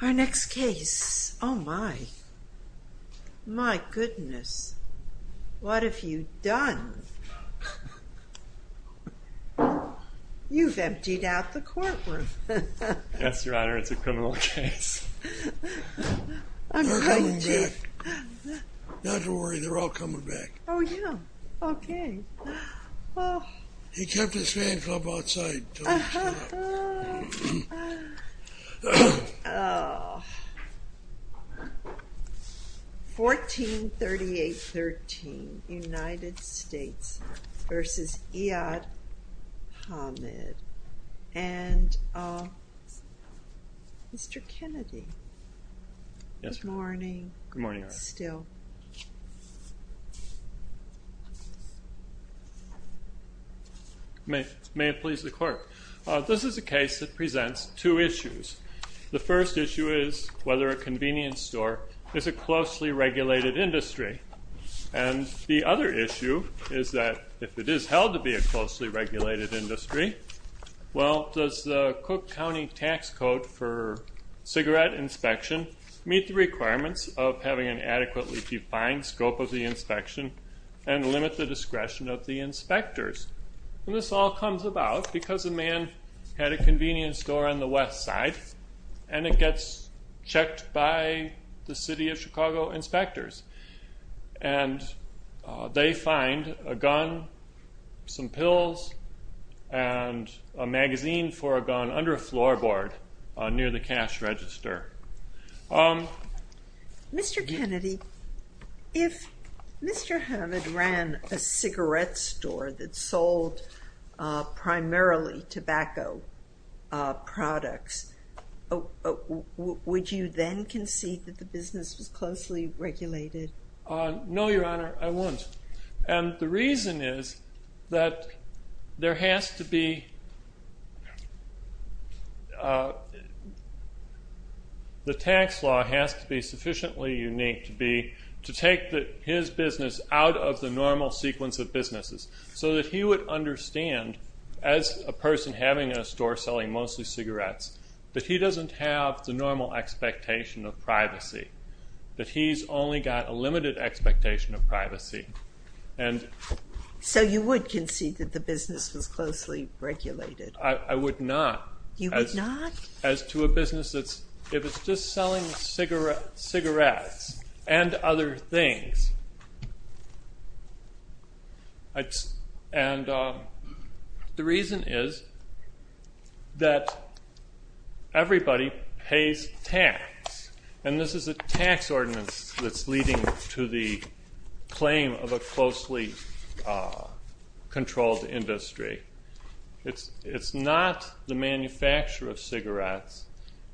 Our next case, oh my, my goodness, what have you done? You've emptied out the courtroom. Yes, your honor, it's a criminal case. They're coming back. Not to worry, they're all coming back. Oh yeah, okay. Oh, he kept his fan club outside. 1438 13 United States v. Iaad Hamad and Mr. Kennedy. Yes. Good morning. Good morning. Still May it please the court. This is a case that presents two issues. The first issue is whether a convenience store is a closely regulated industry. And the other issue is that if it is held to be a closely regulated industry, well, does the Cook County tax code for cigarette inspection meet the requirements of having an adequately defined scope of the inspection and limit the discretion of the inspectors? And this all comes about because a man had a convenience store on the west side and it gets checked by the city of Chicago inspectors. And they find a gun, some pills, and a magazine for a gun under a floorboard near the cash register. Mr. Kennedy, if Mr. Hamad ran a cigarette store that sold primarily tobacco products, would you then concede that the business was closely regulated? No, your honor, I wouldn't. And the reason is that there has to be the tax law has to be sufficiently unique to take his business out of the normal sequence of businesses so that he would understand as a person having a store selling mostly cigarettes that he doesn't have the normal expectation of privacy, that he's only got a limited expectation of privacy. So you would concede that the business was closely regulated? I would not. You would not? As to a business that's, if it's just selling cigarettes and other things. And the reason is that everybody pays tax. And this is a tax ordinance that's leading to the manufacture of cigarettes.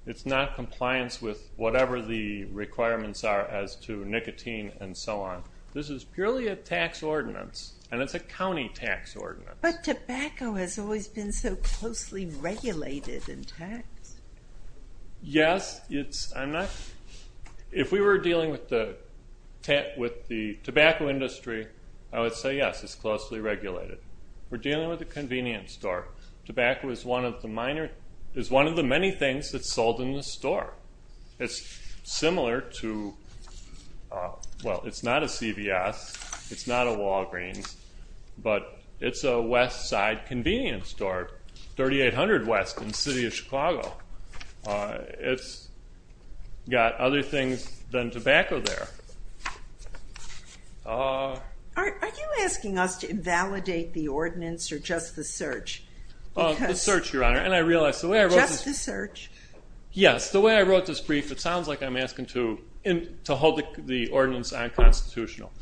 It's not compliance with whatever the requirements are as to nicotine and so on. This is purely a tax ordinance. And it's a county tax ordinance. But tobacco has always been so closely regulated in tax. Yes, it's, I'm not, if we were dealing with the tobacco industry, I would say yes, it's closely regulated. We're dealing with a convenience store. Tobacco is one of the many things that's sold in the store. It's similar to, well, it's not a CVS, it's not a Walgreens, but it's a Westside convenience store, 3800 West in the city of Chicago. It's got other things than tobacco there. Are you asking us to invalidate the ordinance or just the search? Well, the search, Your Honor. And I realize the way I wrote this. Just the search? Yes. The way I wrote this brief, it sounds like I'm asking to hold the ordinance unconstitutional.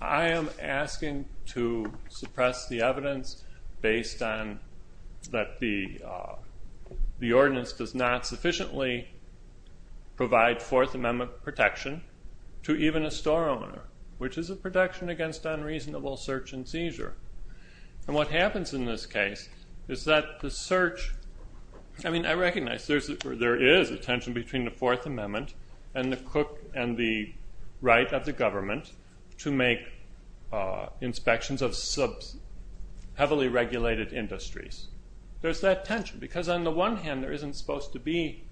I am asking to suppress the evidence based on that the ordinance does not sufficiently provide Fourth Amendment protection to even a store owner, which is a protection against unreasonable search and seizure. And what happens in this case is that the search, I mean, I recognize there is a tension between the Fourth Amendment and the right of the government to make inspections of heavily regulated industries. There's that tension. Because on the one hand, there isn't supposed to be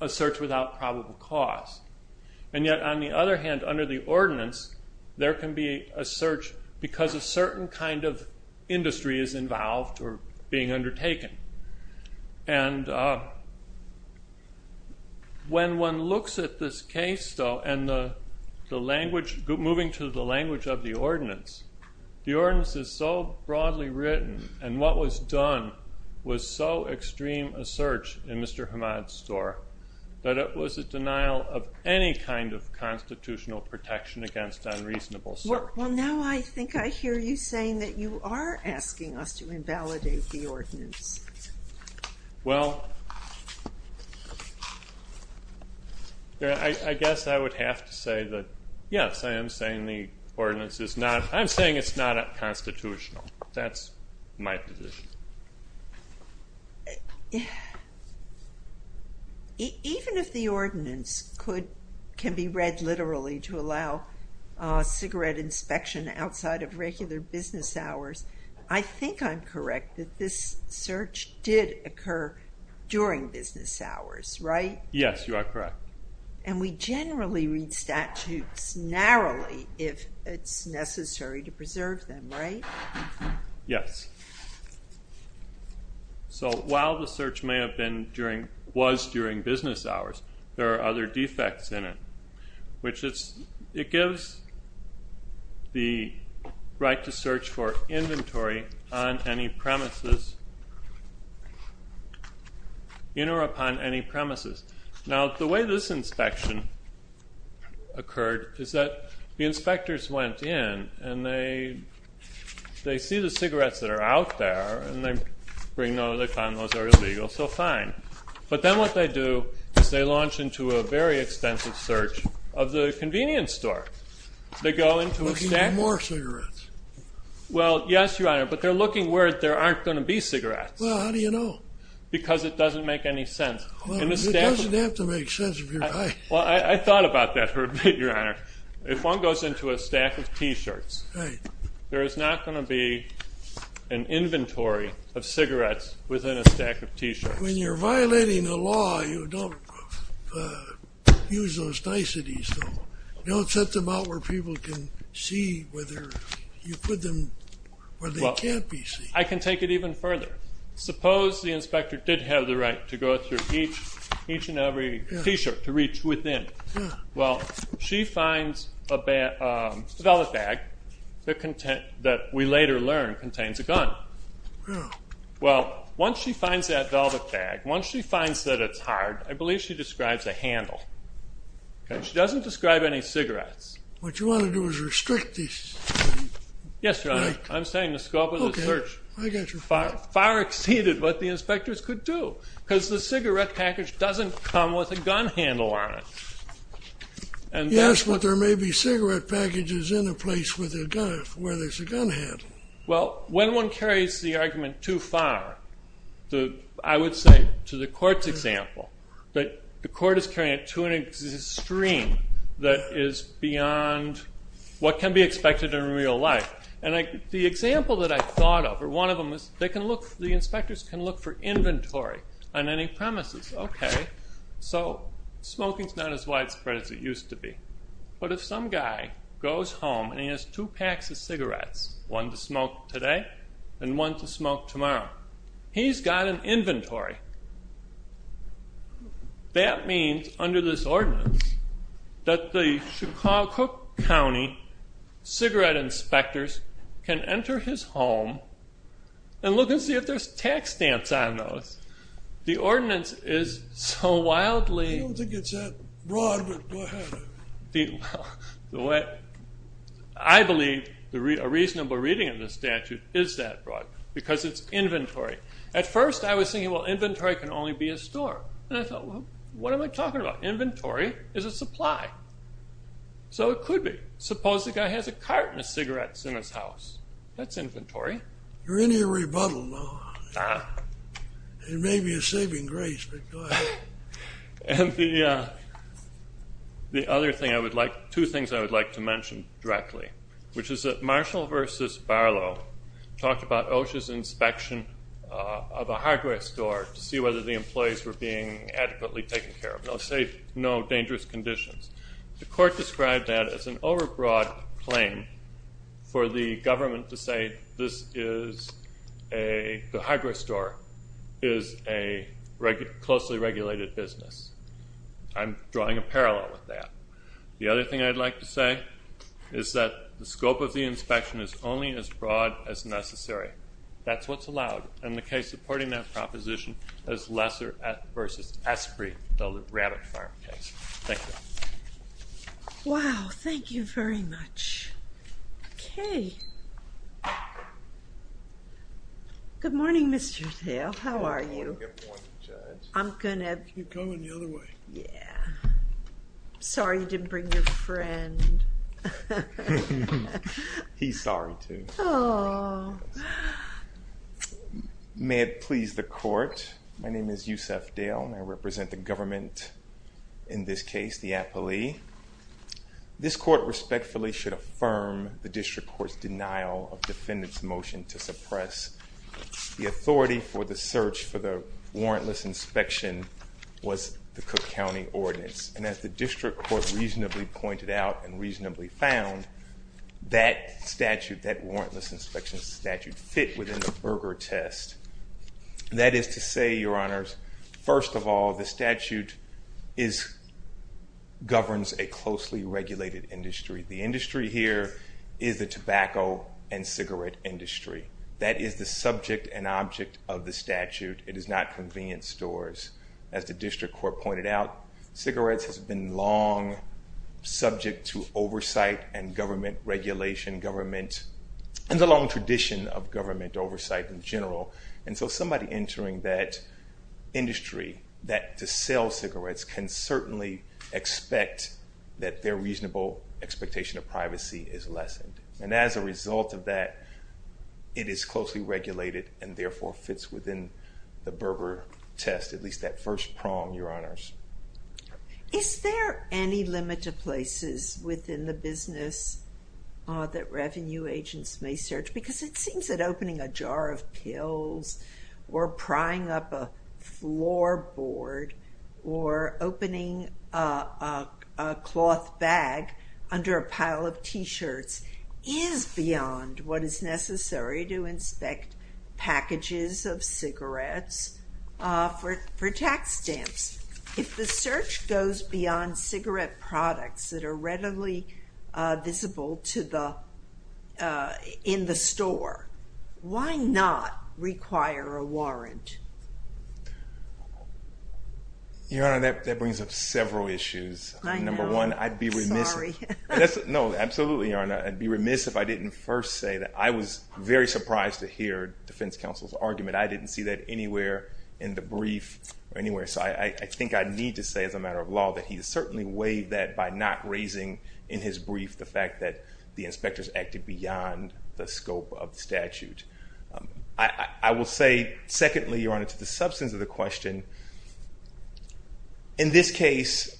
a search without probable cause. And yet, on the other hand, under the ordinance, there can be a search because a certain kind of industry is involved or being undertaken. And when one looks at this case, though, and the language, moving to the language of the ordinance, the ordinance is so broadly written and what was done was so extreme a search in Mr. Hammad's store that it was a denial of any kind of constitutional protection against unreasonable search. Well, now I think I hear you saying that you are asking us to invalidate the ordinance. Well, I guess I would have to say that, yes, I am saying the ordinance is not, not constitutional. That's my position. Even if the ordinance could, can be read literally to allow cigarette inspection outside of regular business hours, I think I'm correct that this search did occur during business hours, right? Yes, you are correct. And we generally read statutes narrowly if it's necessary to preserve them, right? Yes. So while the search may have been during, was during business hours, there are other defects in it, which it's, it gives the right to search for inventory on any premises. Now, the way this inspection occurred is that the inspectors went in and they, they see the cigarettes that are out there and they bring no, they found those are illegal, so fine. But then what they do is they launch into a very extensive search of the convenience store. They go into a stack. More cigarettes. Well, yes, Your Honor, but they're looking where there aren't going to be cigarettes. Well, how do you know? Because it doesn't make any sense. It doesn't have to make sense. Well, I thought about that for a bit, Your Honor. If one goes into a stack of t-shirts, there is not going to be an inventory of cigarettes within a stack of t-shirts. When you're violating the law, you don't use those niceties. Don't set them out where people can see whether you put them where they can't be seen. I can take it even further. Suppose the inspector did have the right to go through each and every t-shirt to reach within. Well, she finds a velvet bag that we later learn contains a gun. Well, once she finds that velvet bag, once she finds that it's hard, I believe she describes a handle. She doesn't describe any cigarettes. What you want to do is restrict this. Yes, Your Honor. I'm saying the scope of the search far exceeded what the inspectors could do because the cigarette package doesn't come with a gun handle on it. Yes, but there may be cigarette packages in a place where there's a gun handle. Well, when one carries the argument too far, I would say to the court's example, that the court is carrying it to an extreme that is beyond what can be expected in real life. And the example that I thought of, or one of them, is the inspectors can look for inventory on any premises. OK, so smoking's not as widespread as it used to be. But if some guy goes home and he has two packs of cigarettes, one to smoke today and one to smoke tomorrow, he's got an inventory. That means, under this ordinance, that the Chicago County cigarette inspectors can enter his home and look and see if there's tax stamps on those. The ordinance is so wildly- I don't think it's that broad, but go ahead. I believe a reasonable reading of the statute is that broad because it's inventory. At first, I was thinking, well, inventory can only be a store. And I thought, well, what am I talking about? Inventory is a supply. So it could be. Suppose the guy has a carton of cigarettes in his house. That's inventory. You're in your rebuttal now. It may be a saving grace, but go ahead. And the other thing I would like- two things I would like to mention directly, which is that Marshall v. Barlow talked about OSHA's inspection of a hardware store to see whether the employees were being adequately taken care of, no dangerous conditions. The court described that as an overbroad claim for the government to say the hardware store is a closely regulated business. I'm drawing a parallel with that. The other thing I'd like to say is that the scope of the inspection is only as broad as necessary. That's what's allowed. And the case supporting that proposition is Lesser v. Esprit, the Rabbit Farm case. Thank you. Wow, thank you very much. Okay. Good morning, Mr. Thale. How are you? Good morning, Judge. I'm going to- Keep going the other way. Yeah. Sorry you didn't bring your friend. He's sorry, too. May it please the court. My name is Yusef Thale. I represent the government in this case, the appellee. This court respectfully should affirm the district court's denial of defendant's motion to suppress the authority for the search for the warrantless inspection was the Cook County Ordinance. And as the district court reasonably pointed out and reasonably found, that statute, that warrantless inspection statute, fit within the Berger test. That is to say, Your Honors, first of all, the statute governs a closely regulated industry. The industry here is the tobacco and cigarette industry. That is the subject and object of the statute. It is not convenience stores. As the district court pointed out, cigarettes has been long subject to oversight and government regulation, government, and the long tradition of government oversight in general. And so somebody entering that industry to sell cigarettes can certainly expect that their reasonable expectation of privacy is lessened. And as a result of that, it is closely regulated and therefore fits within the Berger test, at least that first prong, Your Honors. Is there any limit to places within the business that revenue agents may search? Because it seems that opening a jar of pills or prying up a floor board or opening a cloth bag under a pile of t-shirts is beyond what is necessary to inspect packages of cigarettes for tax stamps. If the search goes beyond cigarette products that are readily visible in the store, why not require a warrant? Your Honor, that brings up several issues. Number one, I'd be remiss if I didn't first say that I was very surprised to hear defense counsel's argument. I didn't see that anywhere in the brief or anywhere. So I think I need to say as a matter of law that he has certainly weighed that by not raising in his brief the fact that the inspectors acted beyond the scope of the statute. I will say, secondly, Your Honor, to the substance of the question, in this case,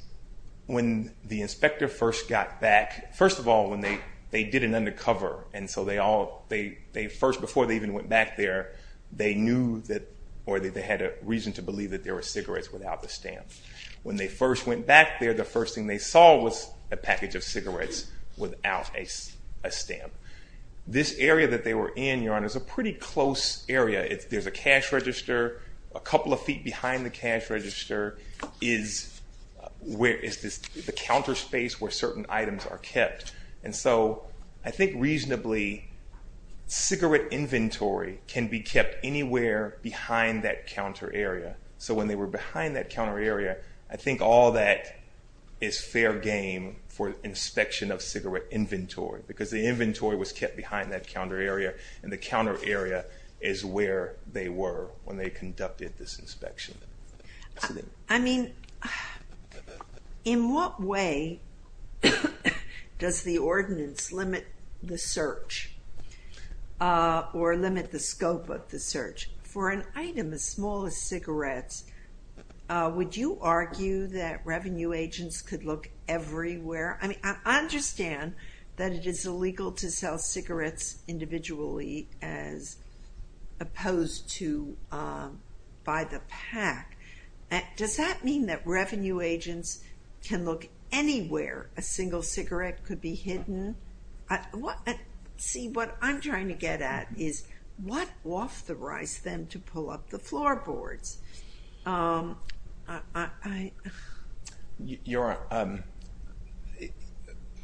when the inspector first got back, first of all, when they did an undercover, and so they all, they first, before they even went back there, they knew that, or they had a reason to believe that there were cigarettes without the stamp. When they first went back there, the first thing they saw was a package of cigarettes without a stamp. This area that they were in, Your Honor, is a pretty close area. There's a cash register. A couple of feet behind the cash register is the counter space where certain items are kept. And so I think reasonably, cigarette inventory can be kept anywhere behind that counter area. So when they were behind that counter area, I think all that is fair game for inspection of cigarette inventory, because the inventory was kept behind that counter area, and the they were when they conducted this inspection. I mean, in what way does the ordinance limit the search, or limit the scope of the search? For an item as small as cigarettes, would you argue that revenue agents could look everywhere? I mean, I understand that it is illegal to sell cigarettes individually as opposed to by the PAC. Does that mean that revenue agents can look anywhere a single cigarette could be hidden? See, what I'm trying to get at is, what authorized them to pull up the floorboards? I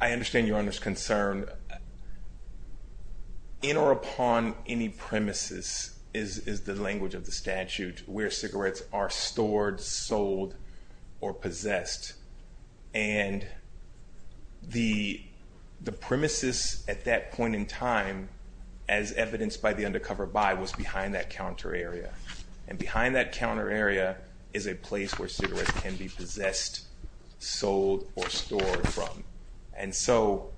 understand Your Honor's concern. In or upon any premises is the language of the statute, where cigarettes are stored, sold, or possessed. And the premises at that point in time, as evidenced by the undercover buy, was behind that counter area. And behind that counter area is a place where cigarettes can be possessed, sold, or stored from. And so,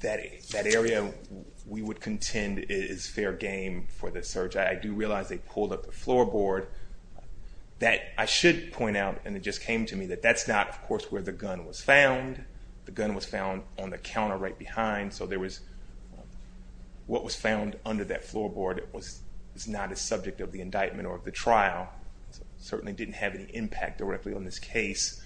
that area we would contend is fair game for the search. I do realize they pulled up the floorboard. That I should point out, and it just came to me, that that's not, of course, where the gun was found. The gun was found on the counter right behind. So, there was, what was found under that floorboard was not a subject of the indictment or of the trial. It certainly didn't have any impact directly on this case.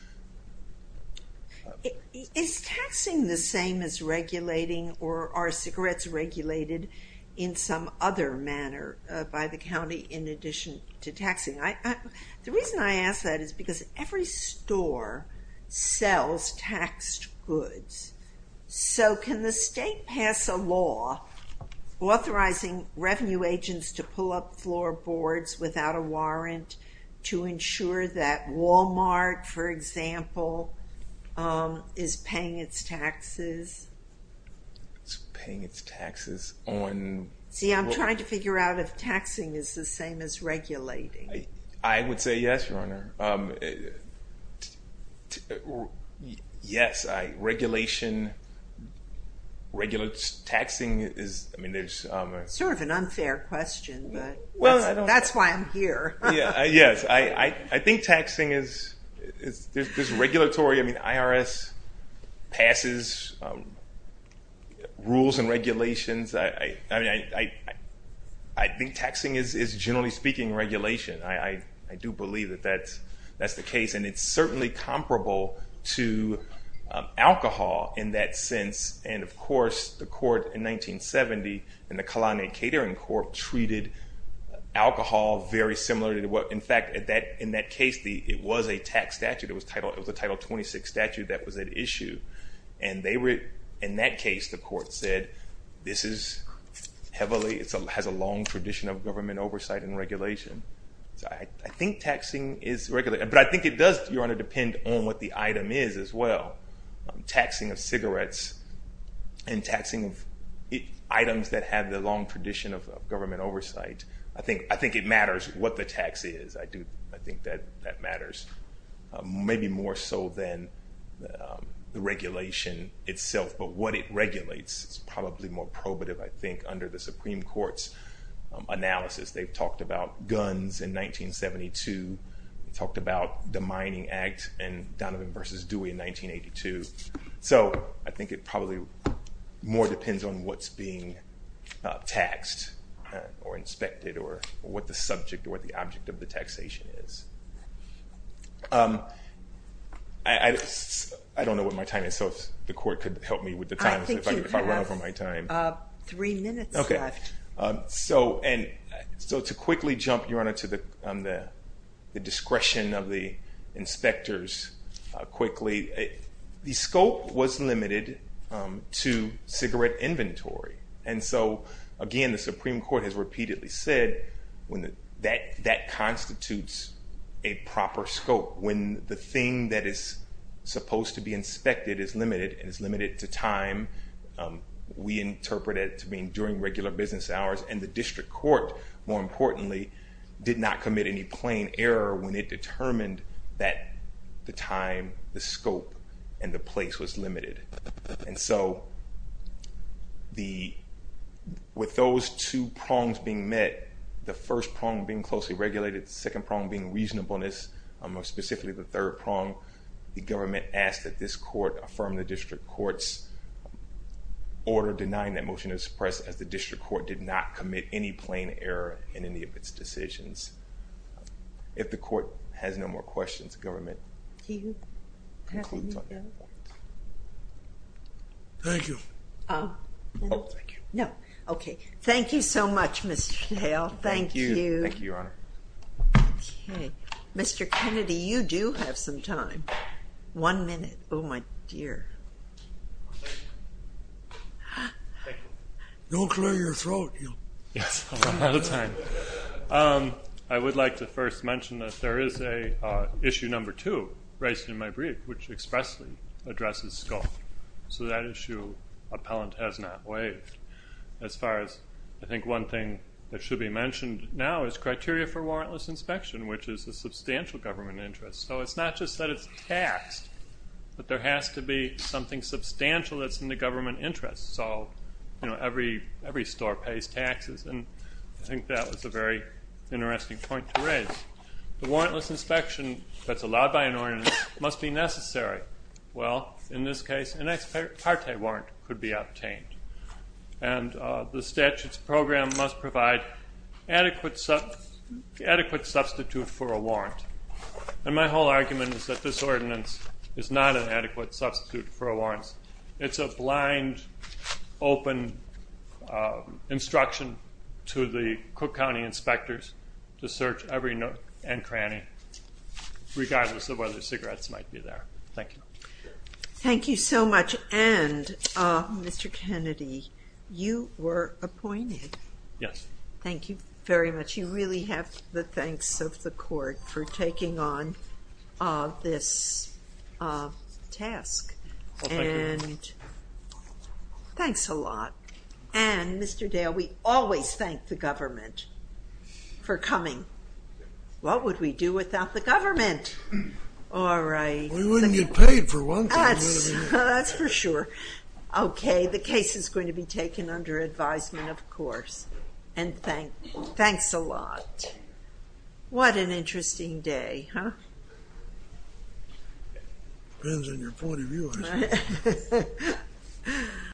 Is taxing the same as regulating, or are cigarettes regulated in some other manner by the county in addition to taxing? The reason I ask that is because every store sells taxed goods. So, can the state pass a law authorizing revenue agents to pull up floorboards without a warrant to ensure that Walmart, for example, is paying its taxes? It's paying its taxes on... See, I'm trying to figure out if taxing is the same as regulating. I would say yes, Your Honor. Yes, regulation regulates... Taxing is... I mean, there's... Sort of an unfair question, but that's why I'm here. Yes, I think taxing is... There's regulatory... I mean, IRS passes rules and regulations. I think taxing is, generally speaking, regulation. I do believe that that's the case. And it's certainly comparable to alcohol in that sense. And of course, the court in 1970, in the Kalani Catering Court, treated alcohol very similarly to what... In fact, in that case, it was a tax statute. It was a Title 26 statute that was at issue. And in that case, the court said, this is heavily... It has a long tradition of government oversight and regulation. So I think taxing is... But I think it does, Your Honor, depend on what the item is as well. Taxing of cigarettes and taxing of items that have the long tradition of government oversight. I think it matters what the tax is. I do think that that matters, maybe more so than the regulation itself. But what it regulates is probably more probative, I think, under the Supreme Court's analysis. They've talked about guns in 1972, talked about the Mining Act, and Donovan v. Dewey in 1982. So I think it probably more depends on what's being taxed, or inspected, or what the subject or the object of the taxation is. I don't know what my time is. So if the court could help me with the time, if I run over my time. I think you have three minutes left. So to quickly jump, Your Honor, to the discretion of the inspectors quickly. The scope was limited to cigarette inventory. And so, again, the Supreme Court has repeatedly said that constitutes a proper scope. When the thing that is supposed to be inspected is limited, and it's limited to time, we interpret it to mean during regular business hours. And the district court, more importantly, did not commit any plain error when it determined that the time, the scope, and the place was limited. And so with those two prongs being met, the first prong being closely regulated, the second prong being reasonableness, or specifically the third prong, the government asked that this court affirm the district court's order denying that motion to suppress, as the district court did not commit any plain error in any of its decisions. If the court has no more questions, government. Do you have any further questions? Thank you. No. Okay. Thank you so much, Mr. Stahel. Thank you. Thank you, Your Honor. Okay. Mr. Kennedy, you do have some time. One minute. Oh, my dear. Thank you. Don't clear your throat. Yes, I'm out of time. I would like to first mention that there is a issue number two raised in my brief, which expressly addresses scope. So that issue, appellant has not waived. As far as I think one thing that should be mentioned now is criteria for warrantless inspection, which is a substantial government interest. So it's not just that it's taxed, but there has to be something substantial that's in the government interest. So every store pays taxes. And I think that was a very interesting point to raise. The warrantless inspection that's allowed by an ordinance must be necessary. Well, in this case, an ex parte warrant could be obtained. And the statute's program must provide adequate substitute for a warrant. And my whole argument is that this ordinance is not an adequate substitute for a warrant. It's a blind, open instruction to the Cook County inspectors to search every nook and cranny, regardless of whether cigarettes might be there. Thank you. Thank you so much. And Mr. Kennedy, you were appointed. Yes. Thank you very much. You really have the thanks of the court for taking on this task. And thanks a lot. And Mr. Dale, we always thank the government for coming. What would we do without the government? All right. We wouldn't get paid for one thing, would we? That's for sure. OK. The case is going to be taken under advisement, of course. And thanks a lot. What an interesting day, huh? It depends on your point of view, I suppose.